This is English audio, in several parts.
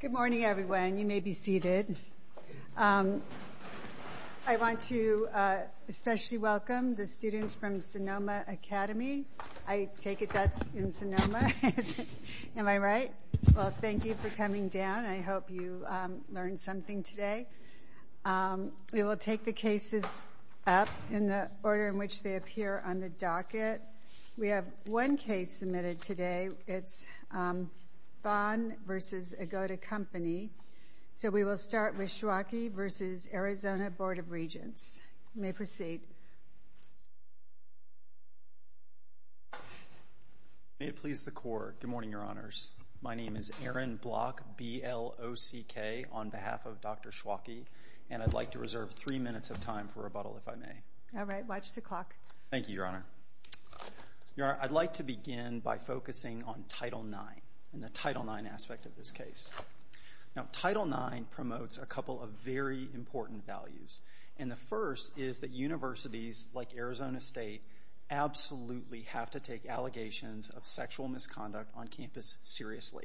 Good morning everyone. You may be seated. I want to especially welcome the students from Sonoma Academy. I take it that's in Sonoma. Am I right? Well, thank you for coming down. I hope you learned something today. We will take the cases up in the order in which they appear on the docket. We have one case submitted today. It's Vaughn v. Agoda Company. So we will start with Schwake v. Arizona Board of Regents. You may proceed. May it please the Court. Good morning, Your Honors. My name is Aaron Block, B-L-O-C-K, on behalf of Dr. Schwake, and I'd like to reserve three minutes of time for rebuttal, if I may. All right. Watch the clock. Thank you, Your Honor. I'd like to begin by focusing on Title IX and the Title IX aspect of this case. Now, Title IX promotes a couple of very important values, and the first is that universities like Arizona State absolutely have to take allegations of sexual misconduct on campus seriously.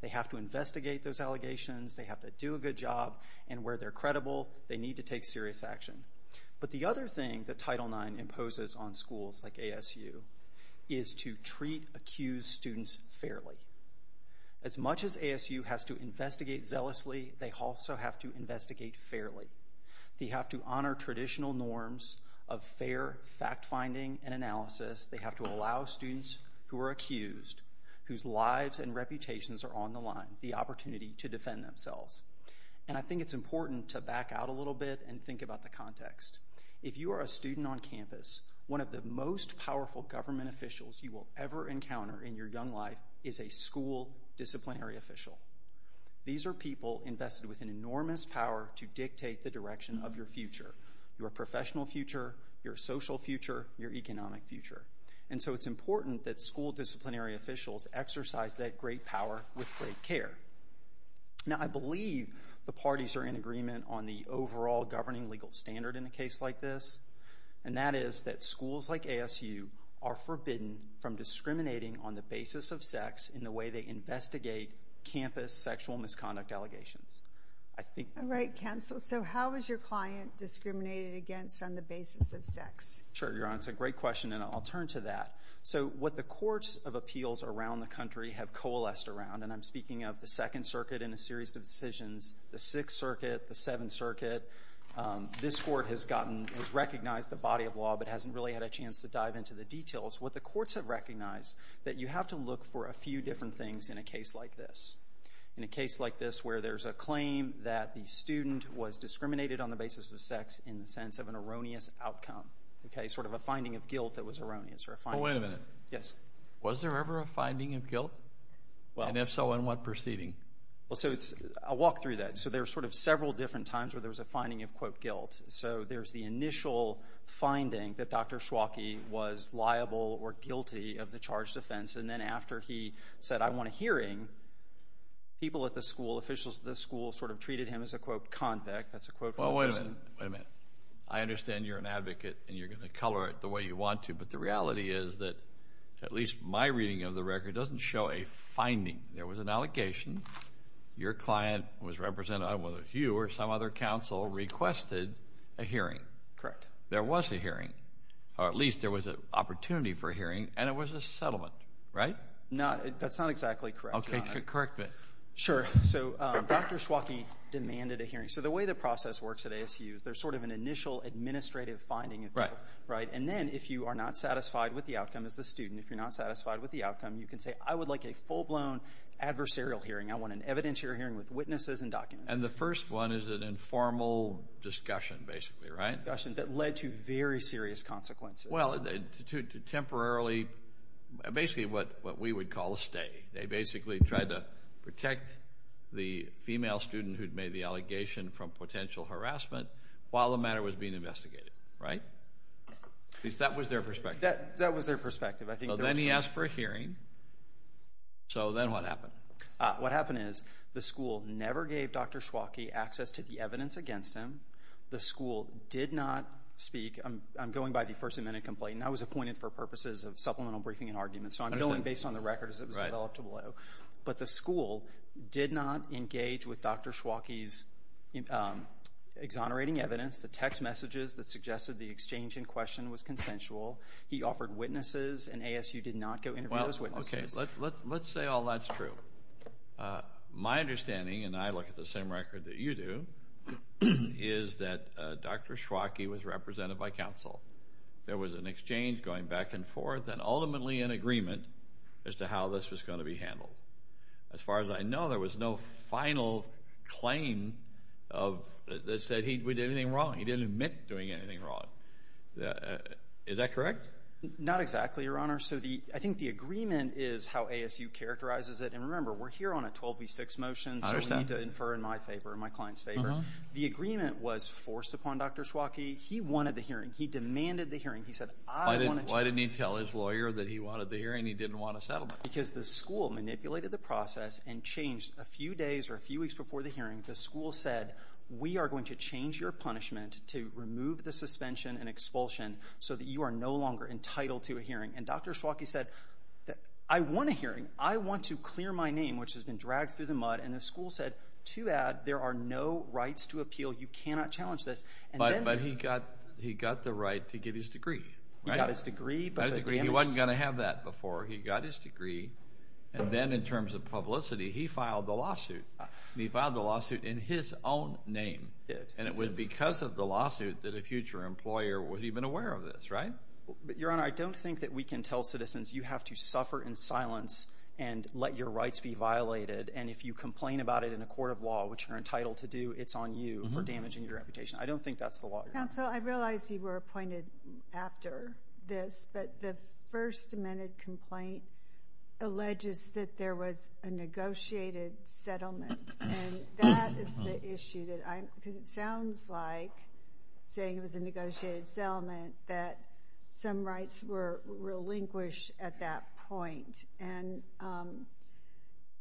They have to investigate those allegations. They have to do a good job, and where they're credible, they need to take serious action. But the other thing that Title IX imposes on schools like ASU is to treat accused students fairly. As much as ASU has to investigate zealously, they also have to investigate fairly. They have to honor traditional norms of fair fact-finding and analysis. They have to allow students who are accused, whose lives and reputations are on the line, the opportunity to defend themselves. And I think it's important to back out a little bit and think about the context. If you are a student on campus, one of the most powerful government officials you will ever encounter in your young life is a school disciplinary official. These are people invested with an enormous power to dictate the direction of your future, your professional future, your social future, your economic future. And so it's important that they care. Now, I believe the parties are in agreement on the overall governing legal standard in a case like this, and that is that schools like ASU are forbidden from discriminating on the basis of sex in the way they investigate campus sexual misconduct allegations. All right, Counsel. So how is your client discriminated against on the basis of sex? Sure, Your Honor. It's a great question, and I'll turn to that. So what the courts of appeals around the country have coalesced around, and I'm speaking of the Second Circuit in a series of decisions, the Sixth Circuit, the Seventh Circuit, this court has gotten, has recognized the body of law but hasn't really had a chance to dive into the details. What the courts have recognized, that you have to look for a few different things in a case like this. In a case like this where there's a claim that the student was discriminated on the basis of sex in the sense of an erroneous outcome, okay, sort of a finding of guilt that was erroneous or a finding of guilt. And if so, in what proceeding? Well, so it's, I'll walk through that. So there's sort of several different times where there's a finding of, quote, guilt. So there's the initial finding that Dr. Schwake was liable or guilty of the charged offense, and then after he said, I want a hearing, people at the school, officials at the school sort of treated him as a, quote, convict. That's a quote. Well, wait a minute. I understand you're an advocate, and you're going to color it the way you want to, but the reality is that, at least my reading of the record, doesn't show a finding. There was an allegation. Your client was represented, whether it was you or some other counsel, requested a hearing. Correct. There was a hearing, or at least there was an opportunity for a hearing, and it was a settlement, right? No, that's not exactly correct. Okay, correct me. Sure. So Dr. Schwake demanded a hearing. So the way the process works at ASU is there's sort of an initial administrative finding of guilt, right? And then, if you are not satisfied with the outcome as the student, if you're not satisfied with the outcome, you can say, I would like a full-blown adversarial hearing. I want an evidentiary hearing with witnesses and documents. And the first one is an informal discussion, basically, right? Discussion that led to very serious consequences. Well, temporarily, basically what we would call a stay. They basically tried to protect the female student who'd made the allegation from potential harassment while the matter was being investigated, right? At least that was their perspective. That was their perspective. So then he asked for a hearing. So then what happened? What happened is the school never gave Dr. Schwake access to the evidence against him. The school did not speak. I'm going by the First Amendment complaint, and I was appointed for purposes of supplemental briefing and arguments. So I'm going based on the record that was developed below. But the school did not engage with Dr. Schwake's exonerating evidence. The text messages that suggested the exchange in question was consensual. He offered witnesses, and ASU did not go interview those witnesses. Well, okay. Let's say all that's true. My understanding, and I look at the same record that you do, is that Dr. Schwake was represented by counsel. There was an exchange going back and forth, and ultimately an agreement as to how this was going to be handled. As far as I know, there was no final claim that said we did anything wrong. He didn't admit doing anything wrong. Is that correct? Not exactly, Your Honor. So I think the agreement is how ASU characterizes it. And remember, we're here on a 12B6 motion, so we need to infer in my favor, in my client's favor. The agreement was forced upon Dr. Schwake. He wanted the hearing. He demanded the hearing. He said, Why didn't he tell his lawyer that he wanted the hearing? He didn't want a settlement. Because the school manipulated the process and changed a few days or a few weeks before the hearing. The school said, we are going to change your punishment to remove the suspension and expulsion so that you are no longer entitled to a hearing. And Dr. Schwake said, I want a hearing. I want to clear my name, which has been dragged through the mud. And the school said, to add, there are no rights to appeal. You cannot challenge this. But he got the right to get his degree. He got his degree. He wasn't going to have that before. He got his degree. And then in terms of publicity, he filed the lawsuit. He filed the lawsuit in his own name. And it was because of the lawsuit that a future employer was even aware of this, right? Your Honor, I don't think that we can tell citizens you have to suffer in silence and let your rights be violated. And if you complain about it in a court of law, which you're entitled to do, it's on you for damaging your reputation. I don't think that's the law, Your Honor. Counsel, I realize you were appointed after this. But the first amended complaint alleges that there was a negotiated settlement. And that is the issue. Because it sounds like, saying it was a negotiated settlement, that some rights were relinquished at that point. And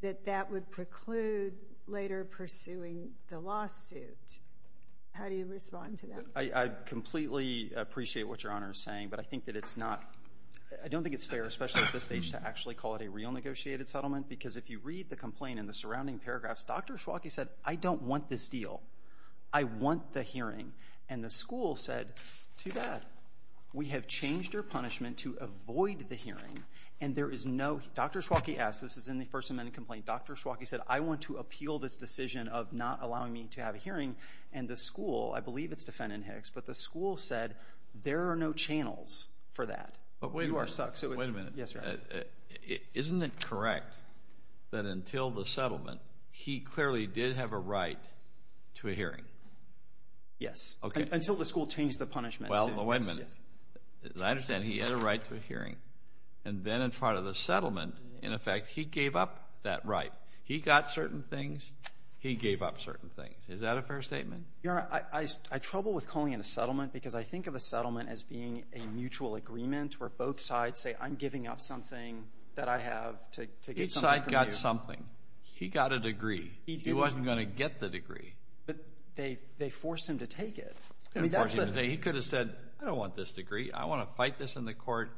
that that would preclude later pursuing the lawsuit. How do you respond to that? I completely appreciate what Your Honor is saying. But I think that it's not, I don't think it's fair, especially at this stage, to actually call it a real negotiated settlement. Because if you read the complaint and the surrounding paragraphs, Dr. Schwalke said, I don't want this deal. I want the hearing. And the school said, too bad. We have changed your punishment to avoid the hearing. And there is no, Dr. Schwalke asked, this is in the first amended complaint, Dr. Schwalke said, I want to appeal this decision of not allowing me to have a hearing. And the school, I believe it's defendant Hicks, but the school said, there are no channels for that. But wait a minute. Wait a minute. Isn't it correct that until the settlement, he clearly did have a right to a hearing? Yes. Until the school changed the punishment. Well, wait a minute. As I understand, he had a right to a hearing. And then in front of the settlement, in effect, he gave up that right. He got certain things. He gave up certain things. Is that a fair statement? Your Honor, I trouble with calling it a settlement because I think of a settlement as being a mutual agreement where both sides say, I'm giving up something that I have to get something from you. Each side got something. He got a degree. He wasn't going to I don't want this degree. I want to fight this in the court.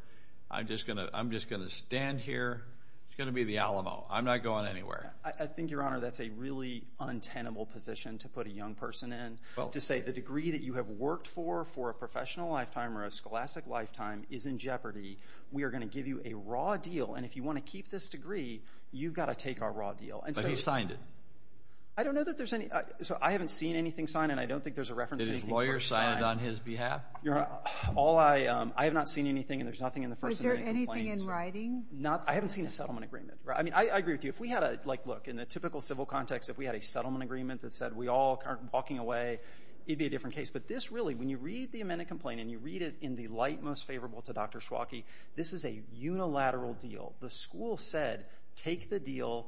I'm just going to stand here. It's going to be the Alamo. I'm not going anywhere. I think, Your Honor, that's a really untenable position to put a young person in. To say the degree that you have worked for, for a professional lifetime or a scholastic lifetime, is in jeopardy. We are going to give you a raw deal. And if you want to keep this degree, you've got to take our raw deal. But who signed it? I don't know that there's any. So I haven't seen anything signed. And I don't think there's a reference to anything we have. Your Honor, I have not seen anything and there's nothing in the first. Is there anything in writing? Not. I haven't seen a settlement agreement. I mean, I agree with you. If we had a look in the typical civil context, if we had a settlement agreement that said we all aren't walking away, it'd be a different case. But this really, when you read the amended complaint and you read it in the light most favorable to Dr. Schwake, this is a unilateral deal. The school said, take the deal.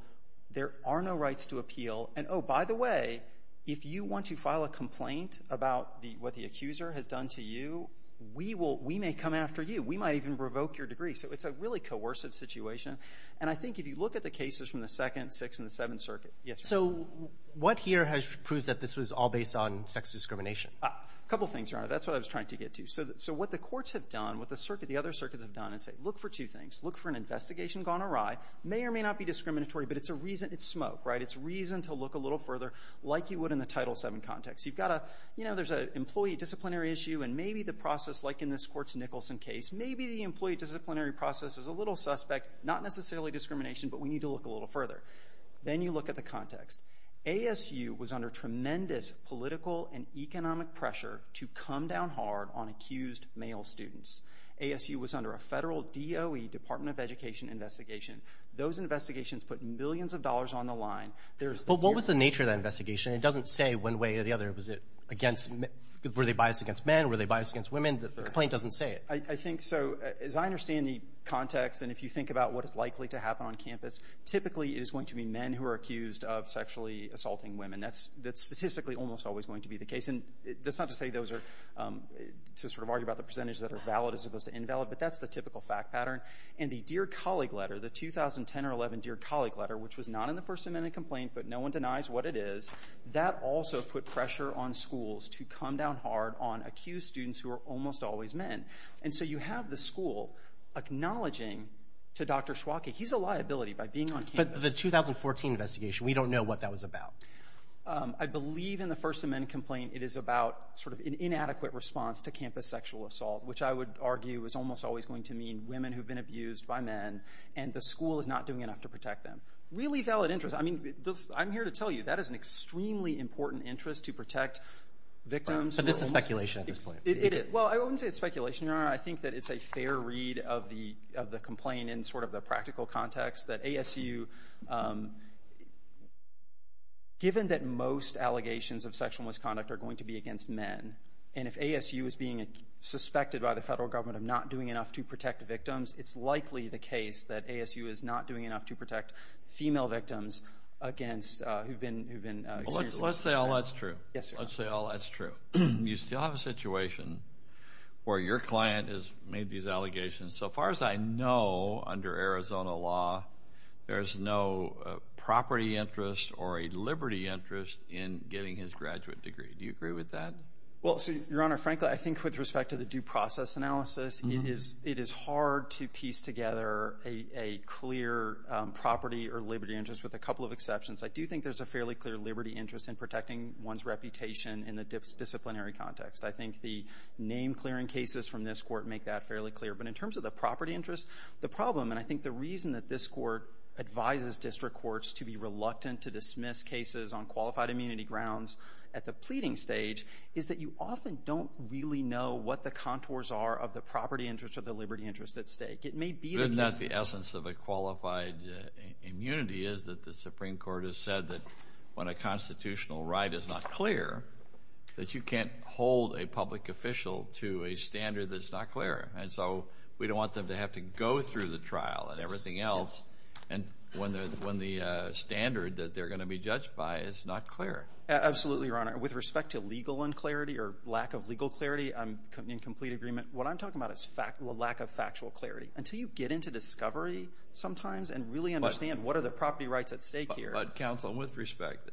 There are no rights to appeal. And oh, by the way, if you want to file a case that's done to you, we will — we may come after you. We might even revoke your degree. So it's a really coercive situation. And I think if you look at the cases from the Second, Sixth, and the Seventh Circuit — yes, Your Honor. So what here has proved that this was all based on sex discrimination? A couple things, Your Honor. That's what I was trying to get to. So what the courts have done, what the circuit — the other circuits have done is say, look for two things. Look for an investigation gone awry. May or may not be discriminatory, but it's a reason — it's smoke, right? It's reason to look a little further, like you would in the Title VII context. You've got a — you know, there's an employee disciplinary issue, and maybe the process, like in this Court's Nicholson case, maybe the employee disciplinary process is a little suspect, not necessarily discrimination, but we need to look a little further. Then you look at the context. ASU was under tremendous political and economic pressure to come down hard on accused male students. ASU was under a federal DOE, Department of Education, investigation. Those investigations put millions of dollars on the line. But what was the nature of that investigation? It doesn't say one way or the other, was it against — were they biased against men? Were they biased against women? The complaint doesn't say it. I think so. As I understand the context, and if you think about what is likely to happen on campus, typically it is going to be men who are accused of sexually assaulting women. That's statistically almost always going to be the case. And that's not to say those are — to sort of argue about the percentage that are valid as opposed to invalid, but that's the typical fact pattern. And the Dear Colleague letter, the 2010 or 2011 Dear Colleague complaint, but no one denies what it is, that also put pressure on schools to come down hard on accused students who are almost always men. And so you have the school acknowledging to Dr. Schwake — he's a liability by being on campus. But the 2014 investigation, we don't know what that was about. I believe in the First Amendment complaint it is about sort of an inadequate response to campus sexual assault, which I would argue is almost always going to mean women who have been abused by men, and the school is not doing enough to protect them. Really valid interest. I mean, I'm here to tell you that is an extremely important interest to protect victims. But this is speculation at this point. Well, I wouldn't say it's speculation. I think that it's a fair read of the complaint in sort of the practical context that ASU — given that most allegations of sexual misconduct are going to be against men, and if ASU is being suspected by the federal government of not doing enough to protect victims, it's likely the case that ASU is not doing enough to protect female victims against — who've been — Well, let's say all that's true. Yes, Your Honor. Let's say all that's true. You still have a situation where your client has made these allegations. So far as I know, under Arizona law, there's no property interest or a liberty interest in getting his graduate degree. Do you agree with that? Well, Your Honor, frankly, I think with respect to the due process analysis, it is hard to make a clear property or liberty interest with a couple of exceptions. I do think there's a fairly clear liberty interest in protecting one's reputation in the disciplinary context. I think the name-clearing cases from this Court make that fairly clear. But in terms of the property interest, the problem — and I think the reason that this Court advises district courts to be reluctant to dismiss cases on qualified immunity grounds at the pleading stage is that you often don't really know what the contours are of the property interest or the liberty interest at stake. It may be that — The problem with the qualified immunity is that the Supreme Court has said that when a constitutional right is not clear, that you can't hold a public official to a standard that's not clear. And so we don't want them to have to go through the trial and everything else when the standard that they're going to be judged by is not clear. Absolutely, Your Honor. With respect to legal unclarity or lack of legal clarity, I'm in complete agreement. What I'm talking about is lack of factual clarity. Until you get into discovery sometimes and really understand what are the property rights at stake here — But, counsel, with respect,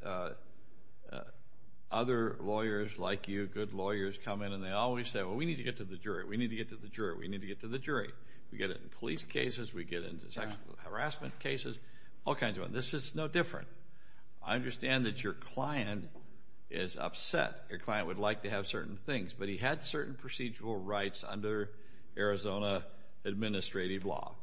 other lawyers like you, good lawyers, come in and they always say, well, we need to get to the jury. We need to get to the jury. We need to get to the jury. We get it in police cases. We get it in sexual harassment cases, all kinds of things. This is no different. I understand that your client is upset. Your client would like to have certain things. But he had certain procedural rights under Arizona administrative law.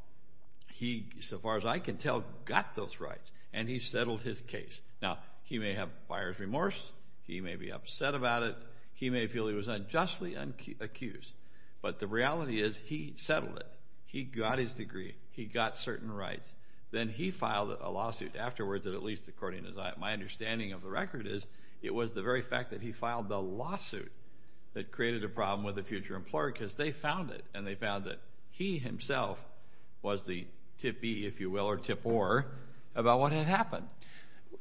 He, so far as I can tell, got those rights. And he settled his case. Now, he may have buyer's remorse. He may be upset about it. He may feel he was unjustly accused. But the reality is he settled it. He got his degree. He got certain rights. Then he filed a lawsuit afterwards that, at least according to my understanding of the record, is it was the very fact that he filed the lawsuit that created a problem with a future employer because they found that he himself was the tip-ee, if you will, or tip-or about what had happened.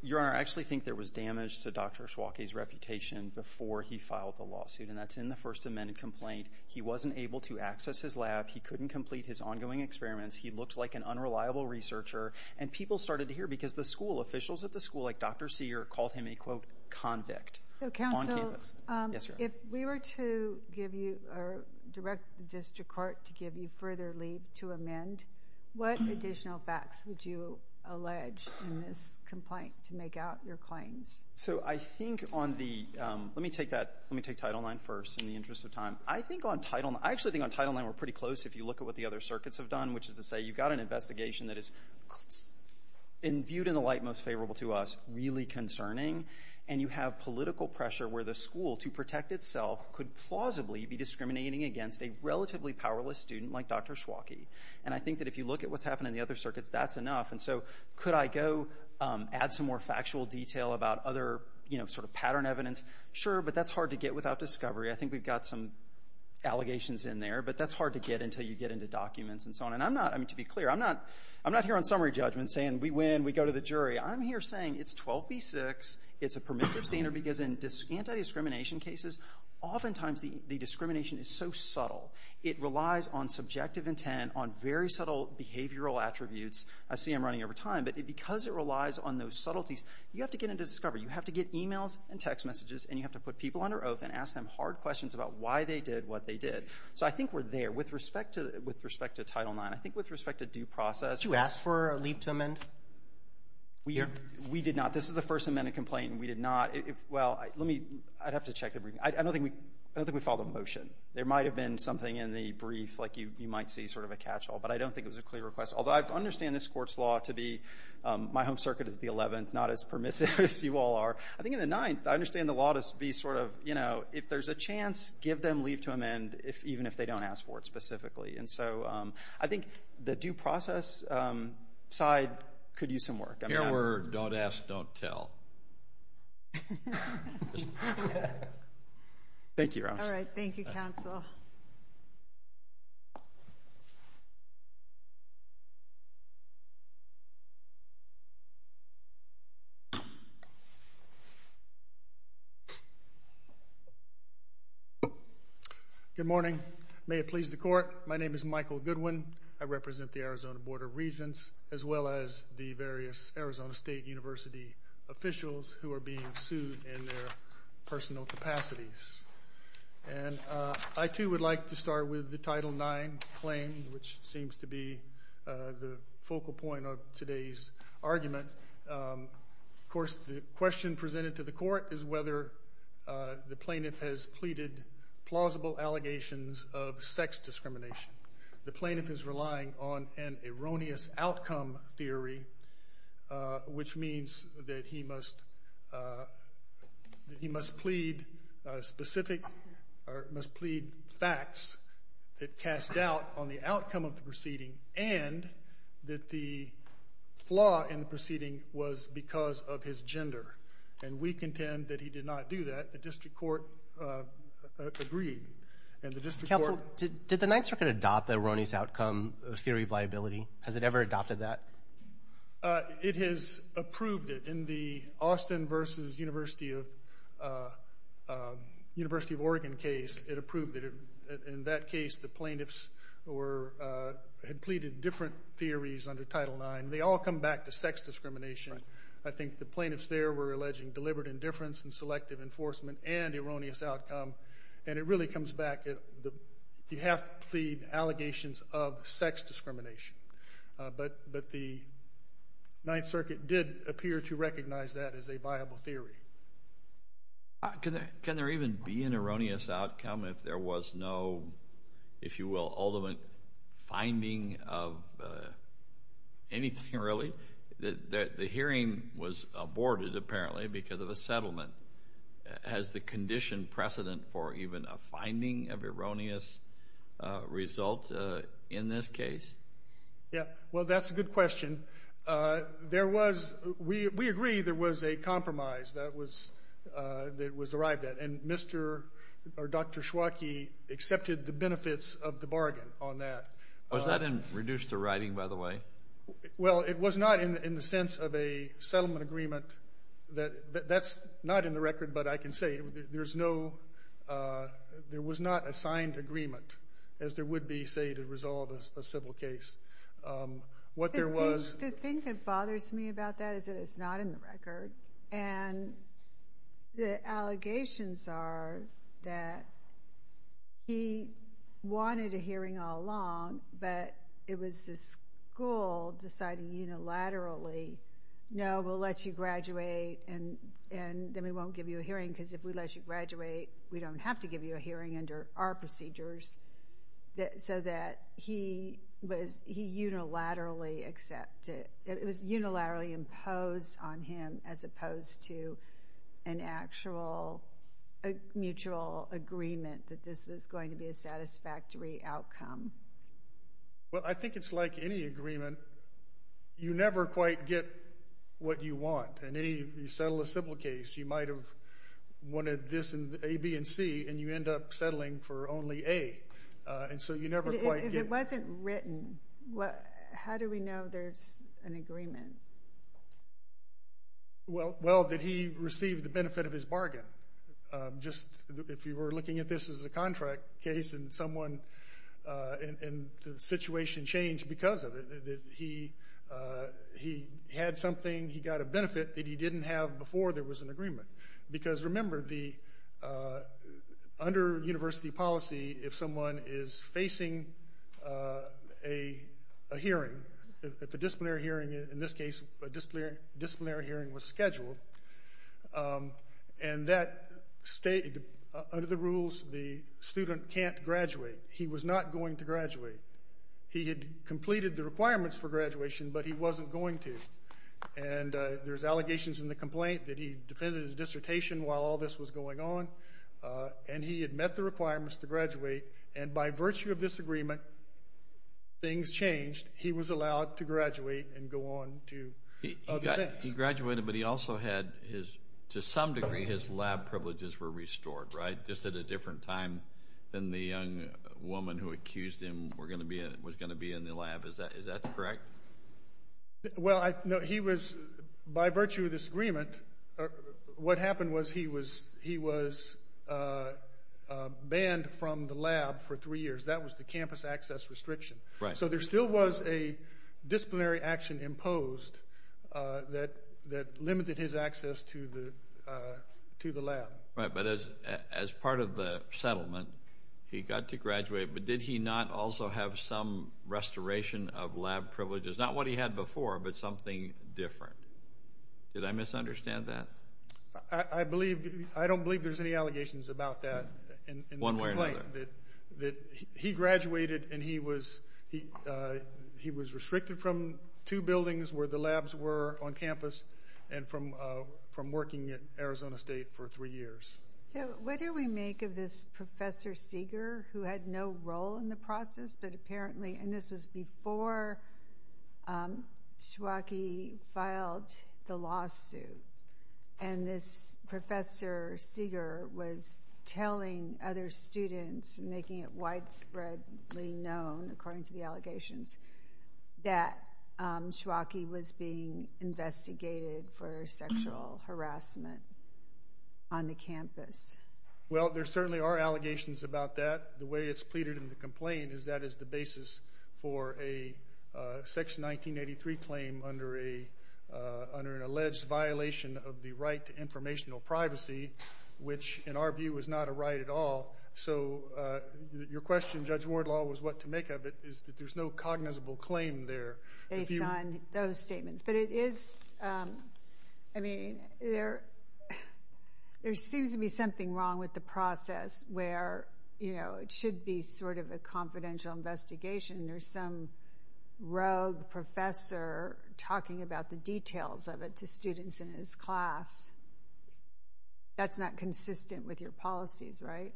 Your Honor, I actually think there was damage to Dr. Schwake's reputation before he filed the lawsuit. And that's in the First Amendment complaint. He wasn't able to access his lab. He couldn't complete his ongoing experiments. He looked like an unreliable researcher. And people started to hear because the school officials at the school, like Dr. Sear, called him a, quote, convict on campus. Yes, Your Honor. If we were to give you, or direct the district court to give you further leave to amend, what additional facts would you allege in this complaint to make out your claims? So I think on the, let me take that, let me take Title IX first in the interest of time. I think on Title IX, I actually think on Title IX we're pretty close if you look at what the other circuits have done, which is to say you've got an investigation that is, viewed in the light most favorable to us, really concerning. And you have political pressure where the school, to protect itself, could plausibly be discriminating against a relatively powerless student like Dr. Schwake. And I think that if you look at what's happened in the other circuits, that's enough. And so could I go add some more factual detail about other, you know, sort of pattern evidence? Sure, but that's hard to get without discovery. I think we've got some allegations in there, but that's hard to get until you get into documents and so on. And I'm not, I mean, to be clear, I'm not, I'm not here on summary judgment saying we win, we go to the jury. I'm here saying it's 12B6, it's a permissive standard because in anti-discrimination cases, oftentimes the discrimination is so subtle. It relies on subjective intent, on very subtle behavioral attributes. I see I'm running over time, but because it relies on those subtleties, you have to get into discovery. You have to get emails and text messages, and you have to put people under oath and ask them hard questions about why they did what they did. So I think we're there. With respect to Title IX, I think with respect to due process. Did you ask for a leap to amend? We did not. This is the first amended complaint, and we did not. Well, let me, I'd have to check the briefing. I don't think we filed a motion. There might have been something in the brief like you might see sort of a catch-all, but I don't think it was a clear request. Although I understand this Court's law to be, my home circuit is the 11th, not as permissive as you all are. I think in the 9th, I understand the law to be sort of, you know, if there's a chance, give them leap to amend, even if they don't ask for it specifically. And so I think the due process side could use some work. Your word, don't ask, don't tell. Thank you, Your Honor. All right. Thank you, counsel. Good morning. May it please the Court. My name is Michael Goodwin. I represent the Arizona Board of Regents as well as the various Arizona State University officials who are being sued in their personal capacities. And I, too, would like to start with the Title IX claim, which seems to be the focal point of today's argument. Of course, the question presented to the Court is whether the plaintiff has pleaded plausible allegations of sex discrimination. The plaintiff is relying on an erroneous outcome theory, which means that he must plead facts that cast doubt on the outcome of the proceeding and that the flaw in the proceeding was because of his gender. And we contend that he did not do that. The district court agreed. Counsel, did the Ninth Circuit adopt the erroneous outcome theory of liability? Has it ever adopted that? It has approved it. In the Austin versus University of Oregon case, it approved it. In that case, the plaintiffs had pleaded different theories under Title IX. They all come back to sex discrimination. I think the plaintiffs there were alleging deliberate indifference and selective enforcement and erroneous outcome. And it really comes back, you have to plead allegations of sex discrimination. But the Ninth Circuit did appear to recognize that as a viable theory. Can there even be an erroneous outcome if there was no, if you will, ultimate finding of anything, really? The hearing was aborted, apparently, because of a settlement. Has the condition precedent for even a finding of erroneous result in this case? Yes. Well, that's a good question. We agree there was a compromise that was arrived at, and Mr. or Dr. Schwake accepted the benefits of the bargain on that. Was that in reduced to writing, by the way? Well, it was not in the sense of a settlement agreement. That's not in the record, but I can say there was not a signed agreement, as there would be, say, to resolve a civil case. The thing that bothers me about that is that it's not in the record, and the allegations are that he wanted a hearing all along, but it was the school deciding unilaterally, no, we'll let you graduate, and then we won't give you a hearing, because if we let you graduate, we don't have to give you a hearing under our procedures, so that he unilaterally accepted. It was unilaterally imposed on him as opposed to an actual mutual agreement that this was going to be a satisfactory outcome. Well, I think it's like any agreement. You never quite get what you want. You settle a civil case, you might have wanted this and A, B, and C, and you end up settling for only A, and so you never quite get it. If it wasn't written, how do we know there's an agreement? Well, that he received the benefit of his bargain. If you were looking at this as a contract case and the situation changed because of it, that he had something he got a benefit that he didn't have before there was an agreement. Because remember, under university policy, if someone is facing a hearing, if a disciplinary hearing, in this case, a disciplinary hearing was scheduled, and under the rules, the student can't graduate. He was not going to graduate. He had completed the requirements for graduation, but he wasn't going to. And there's allegations in the complaint that he defended his dissertation while all this was going on, and he had met the requirements to graduate, and by virtue of this agreement, things changed. He was allowed to graduate and go on to other things. He graduated, but he also had his, to some degree, his lab privileges were restored, right, just at a different time than the young woman who accused him was going to be in the lab. Is that correct? Well, he was, by virtue of this agreement, what happened was he was banned from the lab for three years. That was the campus access restriction. Right. So there still was a disciplinary action imposed that limited his access to the lab. Right, but as part of the settlement, he got to graduate, but did he not also have some restoration of lab privileges? Not what he had before, but something different. Did I misunderstand that? I believe, I don't believe there's any allegations about that in the complaint. One way or another. He graduated, and he was restricted from two buildings where the labs were on campus and from working at Arizona State for three years. So what do we make of this Professor Seeger, who had no role in the process, but apparently, and this was before Schwake filed the lawsuit, and this Professor Seeger was telling other students, making it widespreadly known, according to the allegations, that Schwake was being investigated for sexual harassment on the campus. Well, there certainly are allegations about that. The way it's pleaded in the complaint is that it's the basis for a Section 1983 claim under an alleged violation of the right to informational privacy, which in our view is not a right at all. So your question, Judge Wardlaw, was what to make of it, is that there's no cognizable claim there. Based on those statements. But it is, I mean, there seems to be something wrong with the process where it should be sort of a confidential investigation. There's some rogue professor talking about the details of it to students in his class. That's not consistent with your policies, right?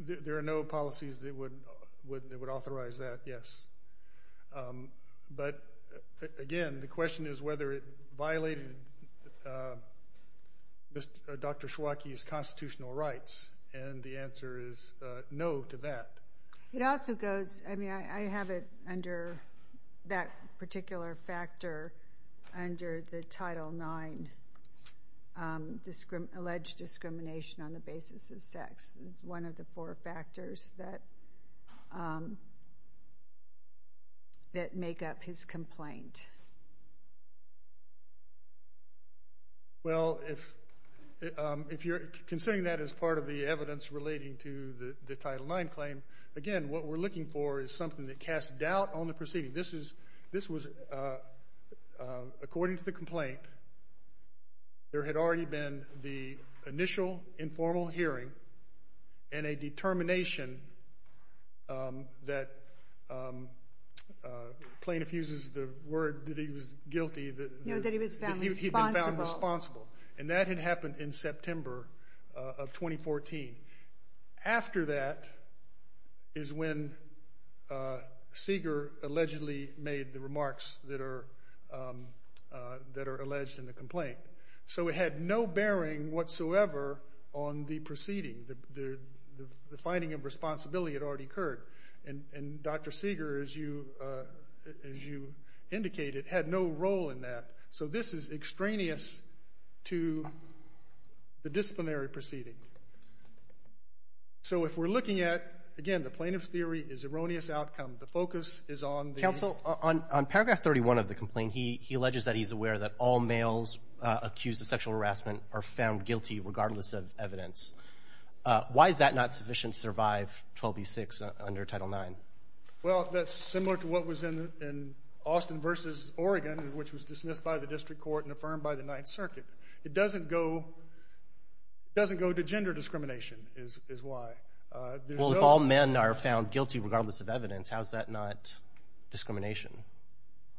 There are no policies that would authorize that, yes. But, again, the question is whether it violated Dr. Schwake's constitutional rights, and the answer is no to that. It also goes, I mean, I have it under that particular factor under the Title IX alleged discrimination on the basis of sex. It's one of the four factors that make up his complaint. Well, if you're considering that as part of the evidence relating to the Title IX claim, again, what we're looking for is something that casts doubt on the proceeding. This was, according to the complaint, there had already been the initial informal hearing and a determination that plaintiff uses the word that he was guilty. No, that he was found responsible. And that had happened in September of 2014. After that is when Seeger allegedly made the remarks that are alleged in the complaint. So it had no bearing whatsoever on the proceeding. The finding of responsibility had already occurred. And Dr. Seeger, as you indicated, had no role in that. So this is extraneous to the disciplinary proceeding. So if we're looking at, again, the plaintiff's theory is erroneous outcome. The focus is on the ---- are found guilty regardless of evidence. Why is that not sufficient to survive 12b-6 under Title IX? Well, that's similar to what was in Austin v. Oregon, which was dismissed by the district court and affirmed by the Ninth Circuit. It doesn't go to gender discrimination is why. Well, if all men are found guilty regardless of evidence, how is that not discrimination?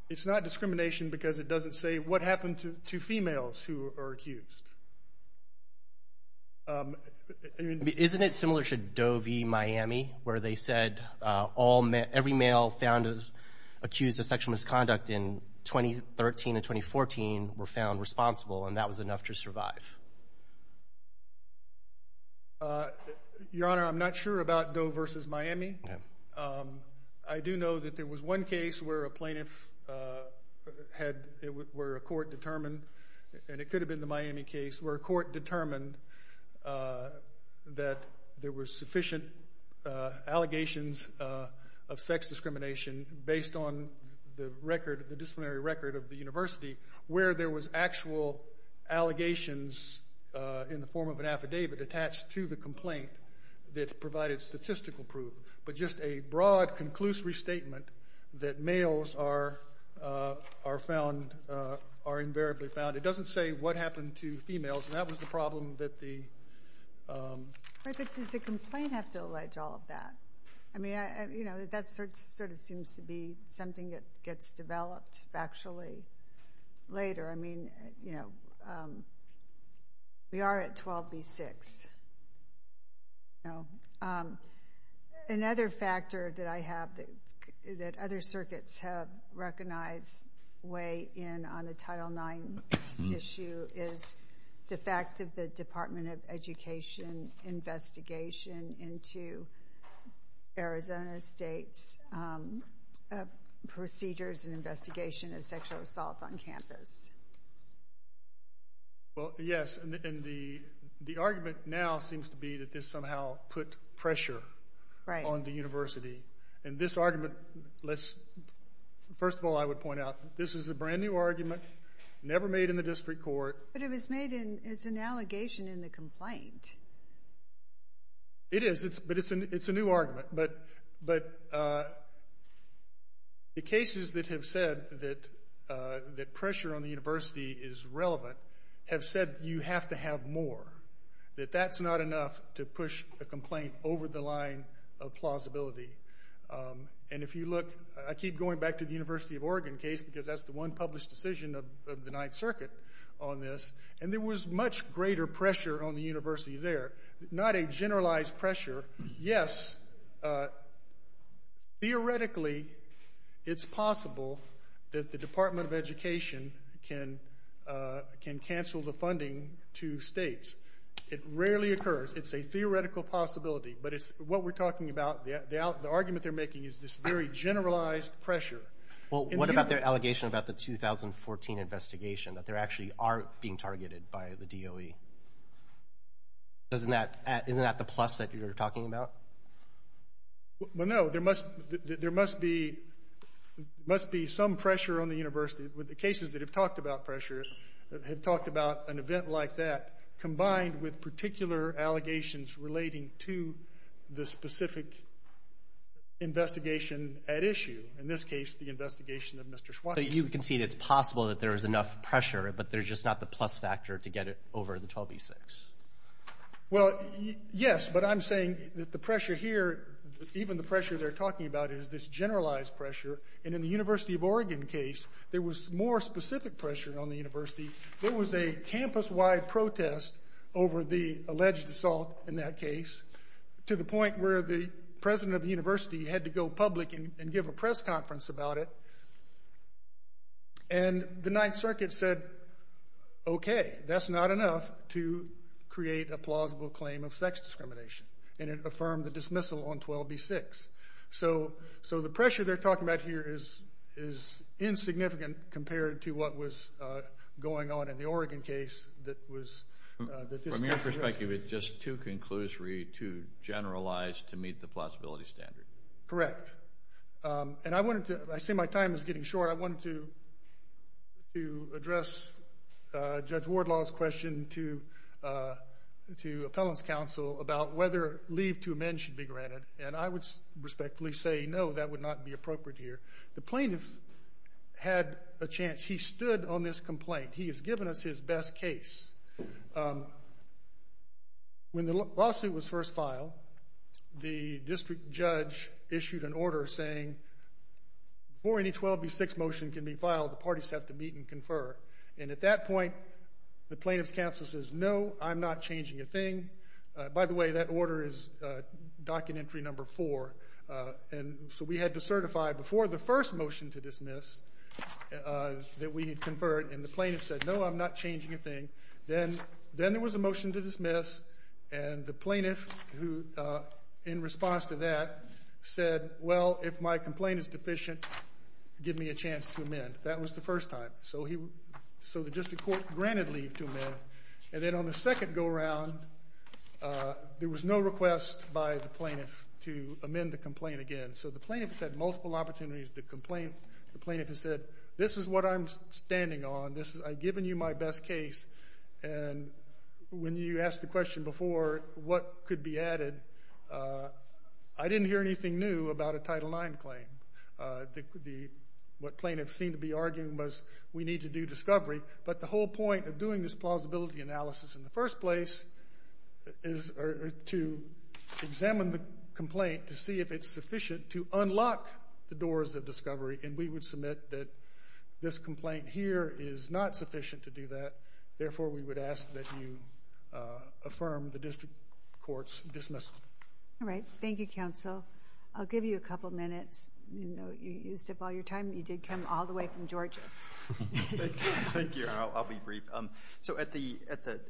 It's not discrimination because it doesn't say what happened to females who are accused. Isn't it similar to Doe v. Miami where they said every male found accused of sexual misconduct in 2013 and 2014 were found responsible and that was enough to survive? Your Honor, I'm not sure about Doe v. Miami. I do know that there was one case where a plaintiff had ---- where a court determined, and it could have been the Miami case, where a court determined that there were sufficient allegations of sex discrimination based on the record, the disciplinary record of the university, where there was actual allegations in the form of an affidavit attached to the complaint that provided statistical proof, but just a broad, conclusive restatement that males are found ---- are invariably found. It doesn't say what happened to females, and that was the problem that the ---- But does the complaint have to allege all of that? I mean, you know, that sort of seems to be something that gets developed factually later. I mean, you know, we are at 12 v. 6. Another factor that I have that other circuits have recognized way in on the Title IX issue is the fact of the Department of Education investigation into Arizona State's procedures and investigation of sexual assault on campus. Well, yes, and the argument now seems to be that this somehow put pressure on the university. And this argument, let's ---- first of all, I would point out, this is a brand-new argument, never made in the district court. But it was made as an allegation in the complaint. It is, but it's a new argument. But the cases that have said that pressure on the university is relevant have said that you have to have more, that that's not enough to push a complaint over the line of plausibility. And if you look, I keep going back to the University of Oregon case because that's the one published decision of the Ninth Circuit on this, and there was much greater pressure on the university there, not a generalized pressure. Yes, theoretically, it's possible that the Department of Education can cancel the funding to states. It rarely occurs. It's a theoretical possibility. But what we're talking about, the argument they're making is this very generalized pressure. Well, what about their allegation about the 2014 investigation, that there actually are being targeted by the DOE? Isn't that the plus that you're talking about? Well, no. There must be some pressure on the university. The cases that have talked about pressure have talked about an event like that combined with particular allegations relating to the specific investigation at issue, in this case the investigation of Mr. Schwartz. So you concede it's possible that there is enough pressure, but there's just not the plus factor to get it over the 12b-6. Well, yes, but I'm saying that the pressure here, even the pressure they're talking about, is this generalized pressure. And in the University of Oregon case, there was more specific pressure on the university. There was a campus-wide protest over the alleged assault in that case, to the point where the president of the university had to go public and give a press conference about it. And the Ninth Circuit said, okay, that's not enough to create a plausible claim of sex discrimination, and it affirmed the dismissal on 12b-6. So the pressure they're talking about here is insignificant compared to what was going on in the Oregon case. From your perspective, it's just too conclusory, too generalized to meet the plausibility standard. Correct. And I say my time is getting short. I wanted to address Judge Wardlaw's question to Appellant's Counsel about whether leave to amend should be granted, and I would respectfully say no, that would not be appropriate here. The plaintiff had a chance. He stood on this complaint. He has given us his best case. When the lawsuit was first filed, the district judge issued an order saying before any 12b-6 motion can be filed, the parties have to meet and confer. And at that point, the plaintiff's counsel says, no, I'm not changing a thing. By the way, that order is Document Entry Number 4, and so we had to certify before the first motion to dismiss that we had conferred, and the plaintiff said, no, I'm not changing a thing. Then there was a motion to dismiss, and the plaintiff, in response to that, said, well, if my complaint is deficient, give me a chance to amend. That was the first time. So the district court granted leave to amend. And then on the second go-around, there was no request by the plaintiff to amend the complaint again. So the plaintiff has had multiple opportunities to complain. The plaintiff has said, this is what I'm standing on. I've given you my best case, and when you asked the question before what could be added, I didn't hear anything new about a Title IX claim. What plaintiffs seemed to be arguing was we need to do discovery, but the whole point of doing this plausibility analysis in the first place is to examine the complaint to see if it's sufficient to unlock the doors of discovery, and we would submit that this complaint here is not sufficient to do that. Therefore, we would ask that you affirm the district court's dismissal. All right. Thank you, counsel. I'll give you a couple minutes. You used up all your time, but you did come all the way from Georgia. Thank you. I'll be brief. So at the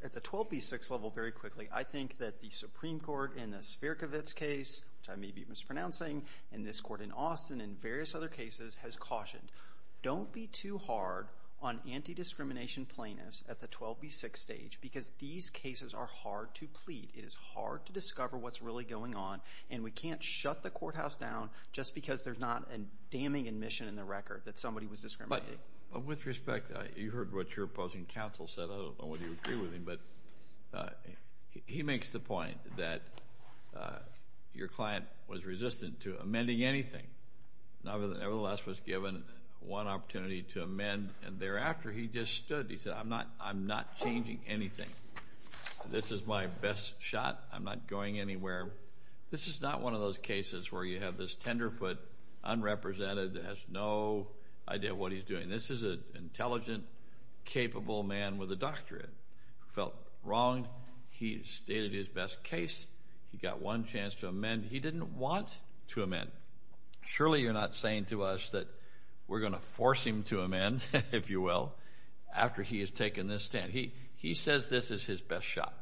12B6 level, very quickly, I think that the Supreme Court in the Spierkowicz case, which I may be mispronouncing, and this court in Austin and various other cases has cautioned, don't be too hard on anti-discrimination plaintiffs at the 12B6 stage because these cases are hard to plead. It is hard to discover what's really going on, and we can't shut the courthouse down just because there's not a damning admission in the record that somebody was discriminated. But with respect, you heard what your opposing counsel said. I don't know whether you agree with him, but he makes the point that your client was resistant to amending anything and nevertheless was given one opportunity to amend, and thereafter he just stood. He said, I'm not changing anything. This is my best shot. I'm not going anywhere. This is not one of those cases where you have this tenderfoot, unrepresented, that has no idea what he's doing. This is an intelligent, capable man with a doctorate who felt wronged. He stated his best case. He got one chance to amend. He didn't want to amend. Surely you're not saying to us that we're going to force him to amend, if you will, after he has taken this stand. He says this is his best shot.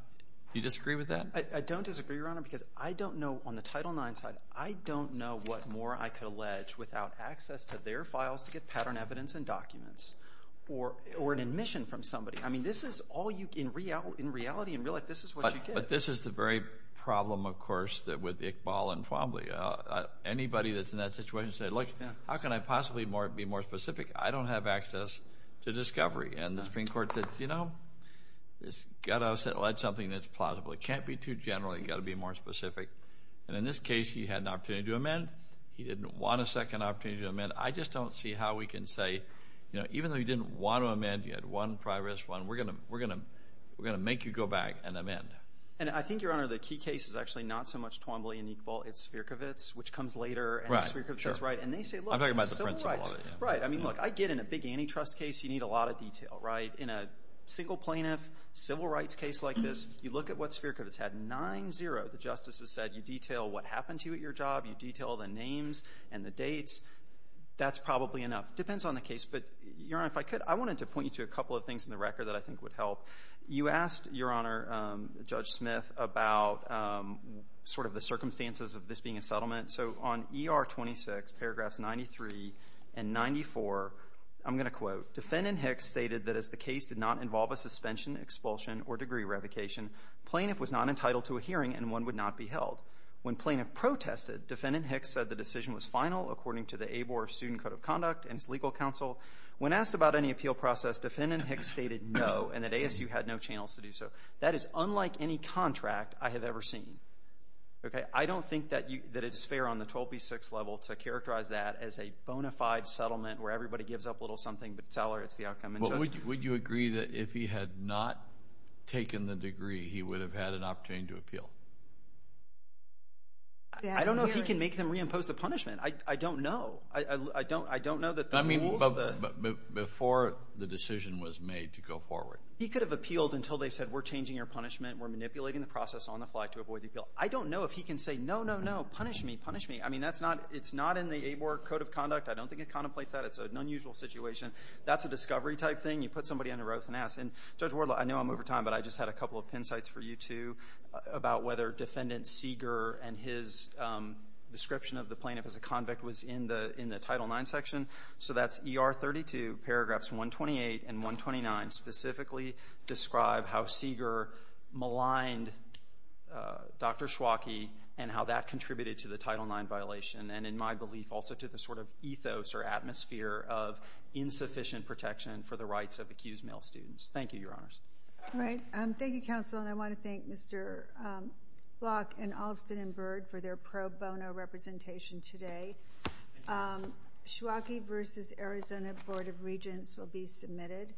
Do you disagree with that? I don't disagree, Your Honor, because I don't know, on the Title IX side, I don't know what more I could allege without access to their files to get pattern evidence and documents or an admission from somebody. I mean, this is all you, in reality, in real life, this is what you get. But this is the very problem, of course, with Iqbal and Twombly. Anybody that's in that situation said, look, how can I possibly be more specific? I don't have access to discovery. And the Supreme Court said, you know, you've got to allege something that's plausible. It can't be too general. You've got to be more specific. And in this case, he had an opportunity to amend. He didn't want a second opportunity to amend. I just don't see how we can say, you know, even though he didn't want to amend, he had one prior risk, one. We're going to make you go back and amend. And I think, Your Honor, the key case is actually not so much Twombly and Iqbal. It's Spierkowicz, which comes later. And Spierkowicz is right. And they say, look, civil rights. I mean, look, I get in a big antitrust case, you need a lot of detail, right? In a single plaintiff civil rights case like this, you look at what Spierkowicz had, 9-0. The justices said you detail what happened to you at your job. You detail the names and the dates. That's probably enough. It depends on the case. But, Your Honor, if I could, I wanted to point you to a couple of things in the record that I think would help. You asked, Your Honor, Judge Smith, about sort of the circumstances of this being a settlement. So on ER 26, paragraphs 93 and 94, I'm going to quote, Defendant Hicks stated that as the case did not involve a suspension, expulsion, or degree revocation, plaintiff was not entitled to a hearing and one would not be held. When plaintiff protested, Defendant Hicks said the decision was final according to the ABOR Student Code of Conduct and its legal counsel. When asked about any appeal process, Defendant Hicks stated no and that ASU had no channels to do so. That is unlike any contract I have ever seen. I don't think that it is fair on the 12B6 level to characterize that as a bona fide settlement where everybody gives up a little something but tolerates the outcome. Would you agree that if he had not taken the degree, he would have had an opportunity to appeal? I don't know if he can make them reimpose the punishment. I don't know. I don't know that the rules. I mean, before the decision was made to go forward. He could have appealed until they said we're changing your punishment, we're manipulating the process on the fly to avoid the appeal. I don't know if he can say no, no, no, punish me, punish me. I mean, it's not in the ABOR Code of Conduct. I don't think it contemplates that. It's an unusual situation. That's a discovery type thing. You put somebody under oath and ask. And, Judge Wardlaw, I know I'm over time, but I just had a couple of pin sites for you two about whether Defendant Seeger and his description of the plaintiff as a convict was in the Title IX section. So that's ER 32, paragraphs 128 and 129 specifically describe how Seeger maligned Dr. Schwake and how that contributed to the Title IX violation and, in my belief, also to the sort of ethos or atmosphere of insufficient protection for the rights of accused male students. Thank you, Your Honors. All right. Thank you, Counsel. And I want to thank Mr. Block and Alston and Bird for their pro bono representation today. Schwake v. Arizona Board of Regents will be submitted.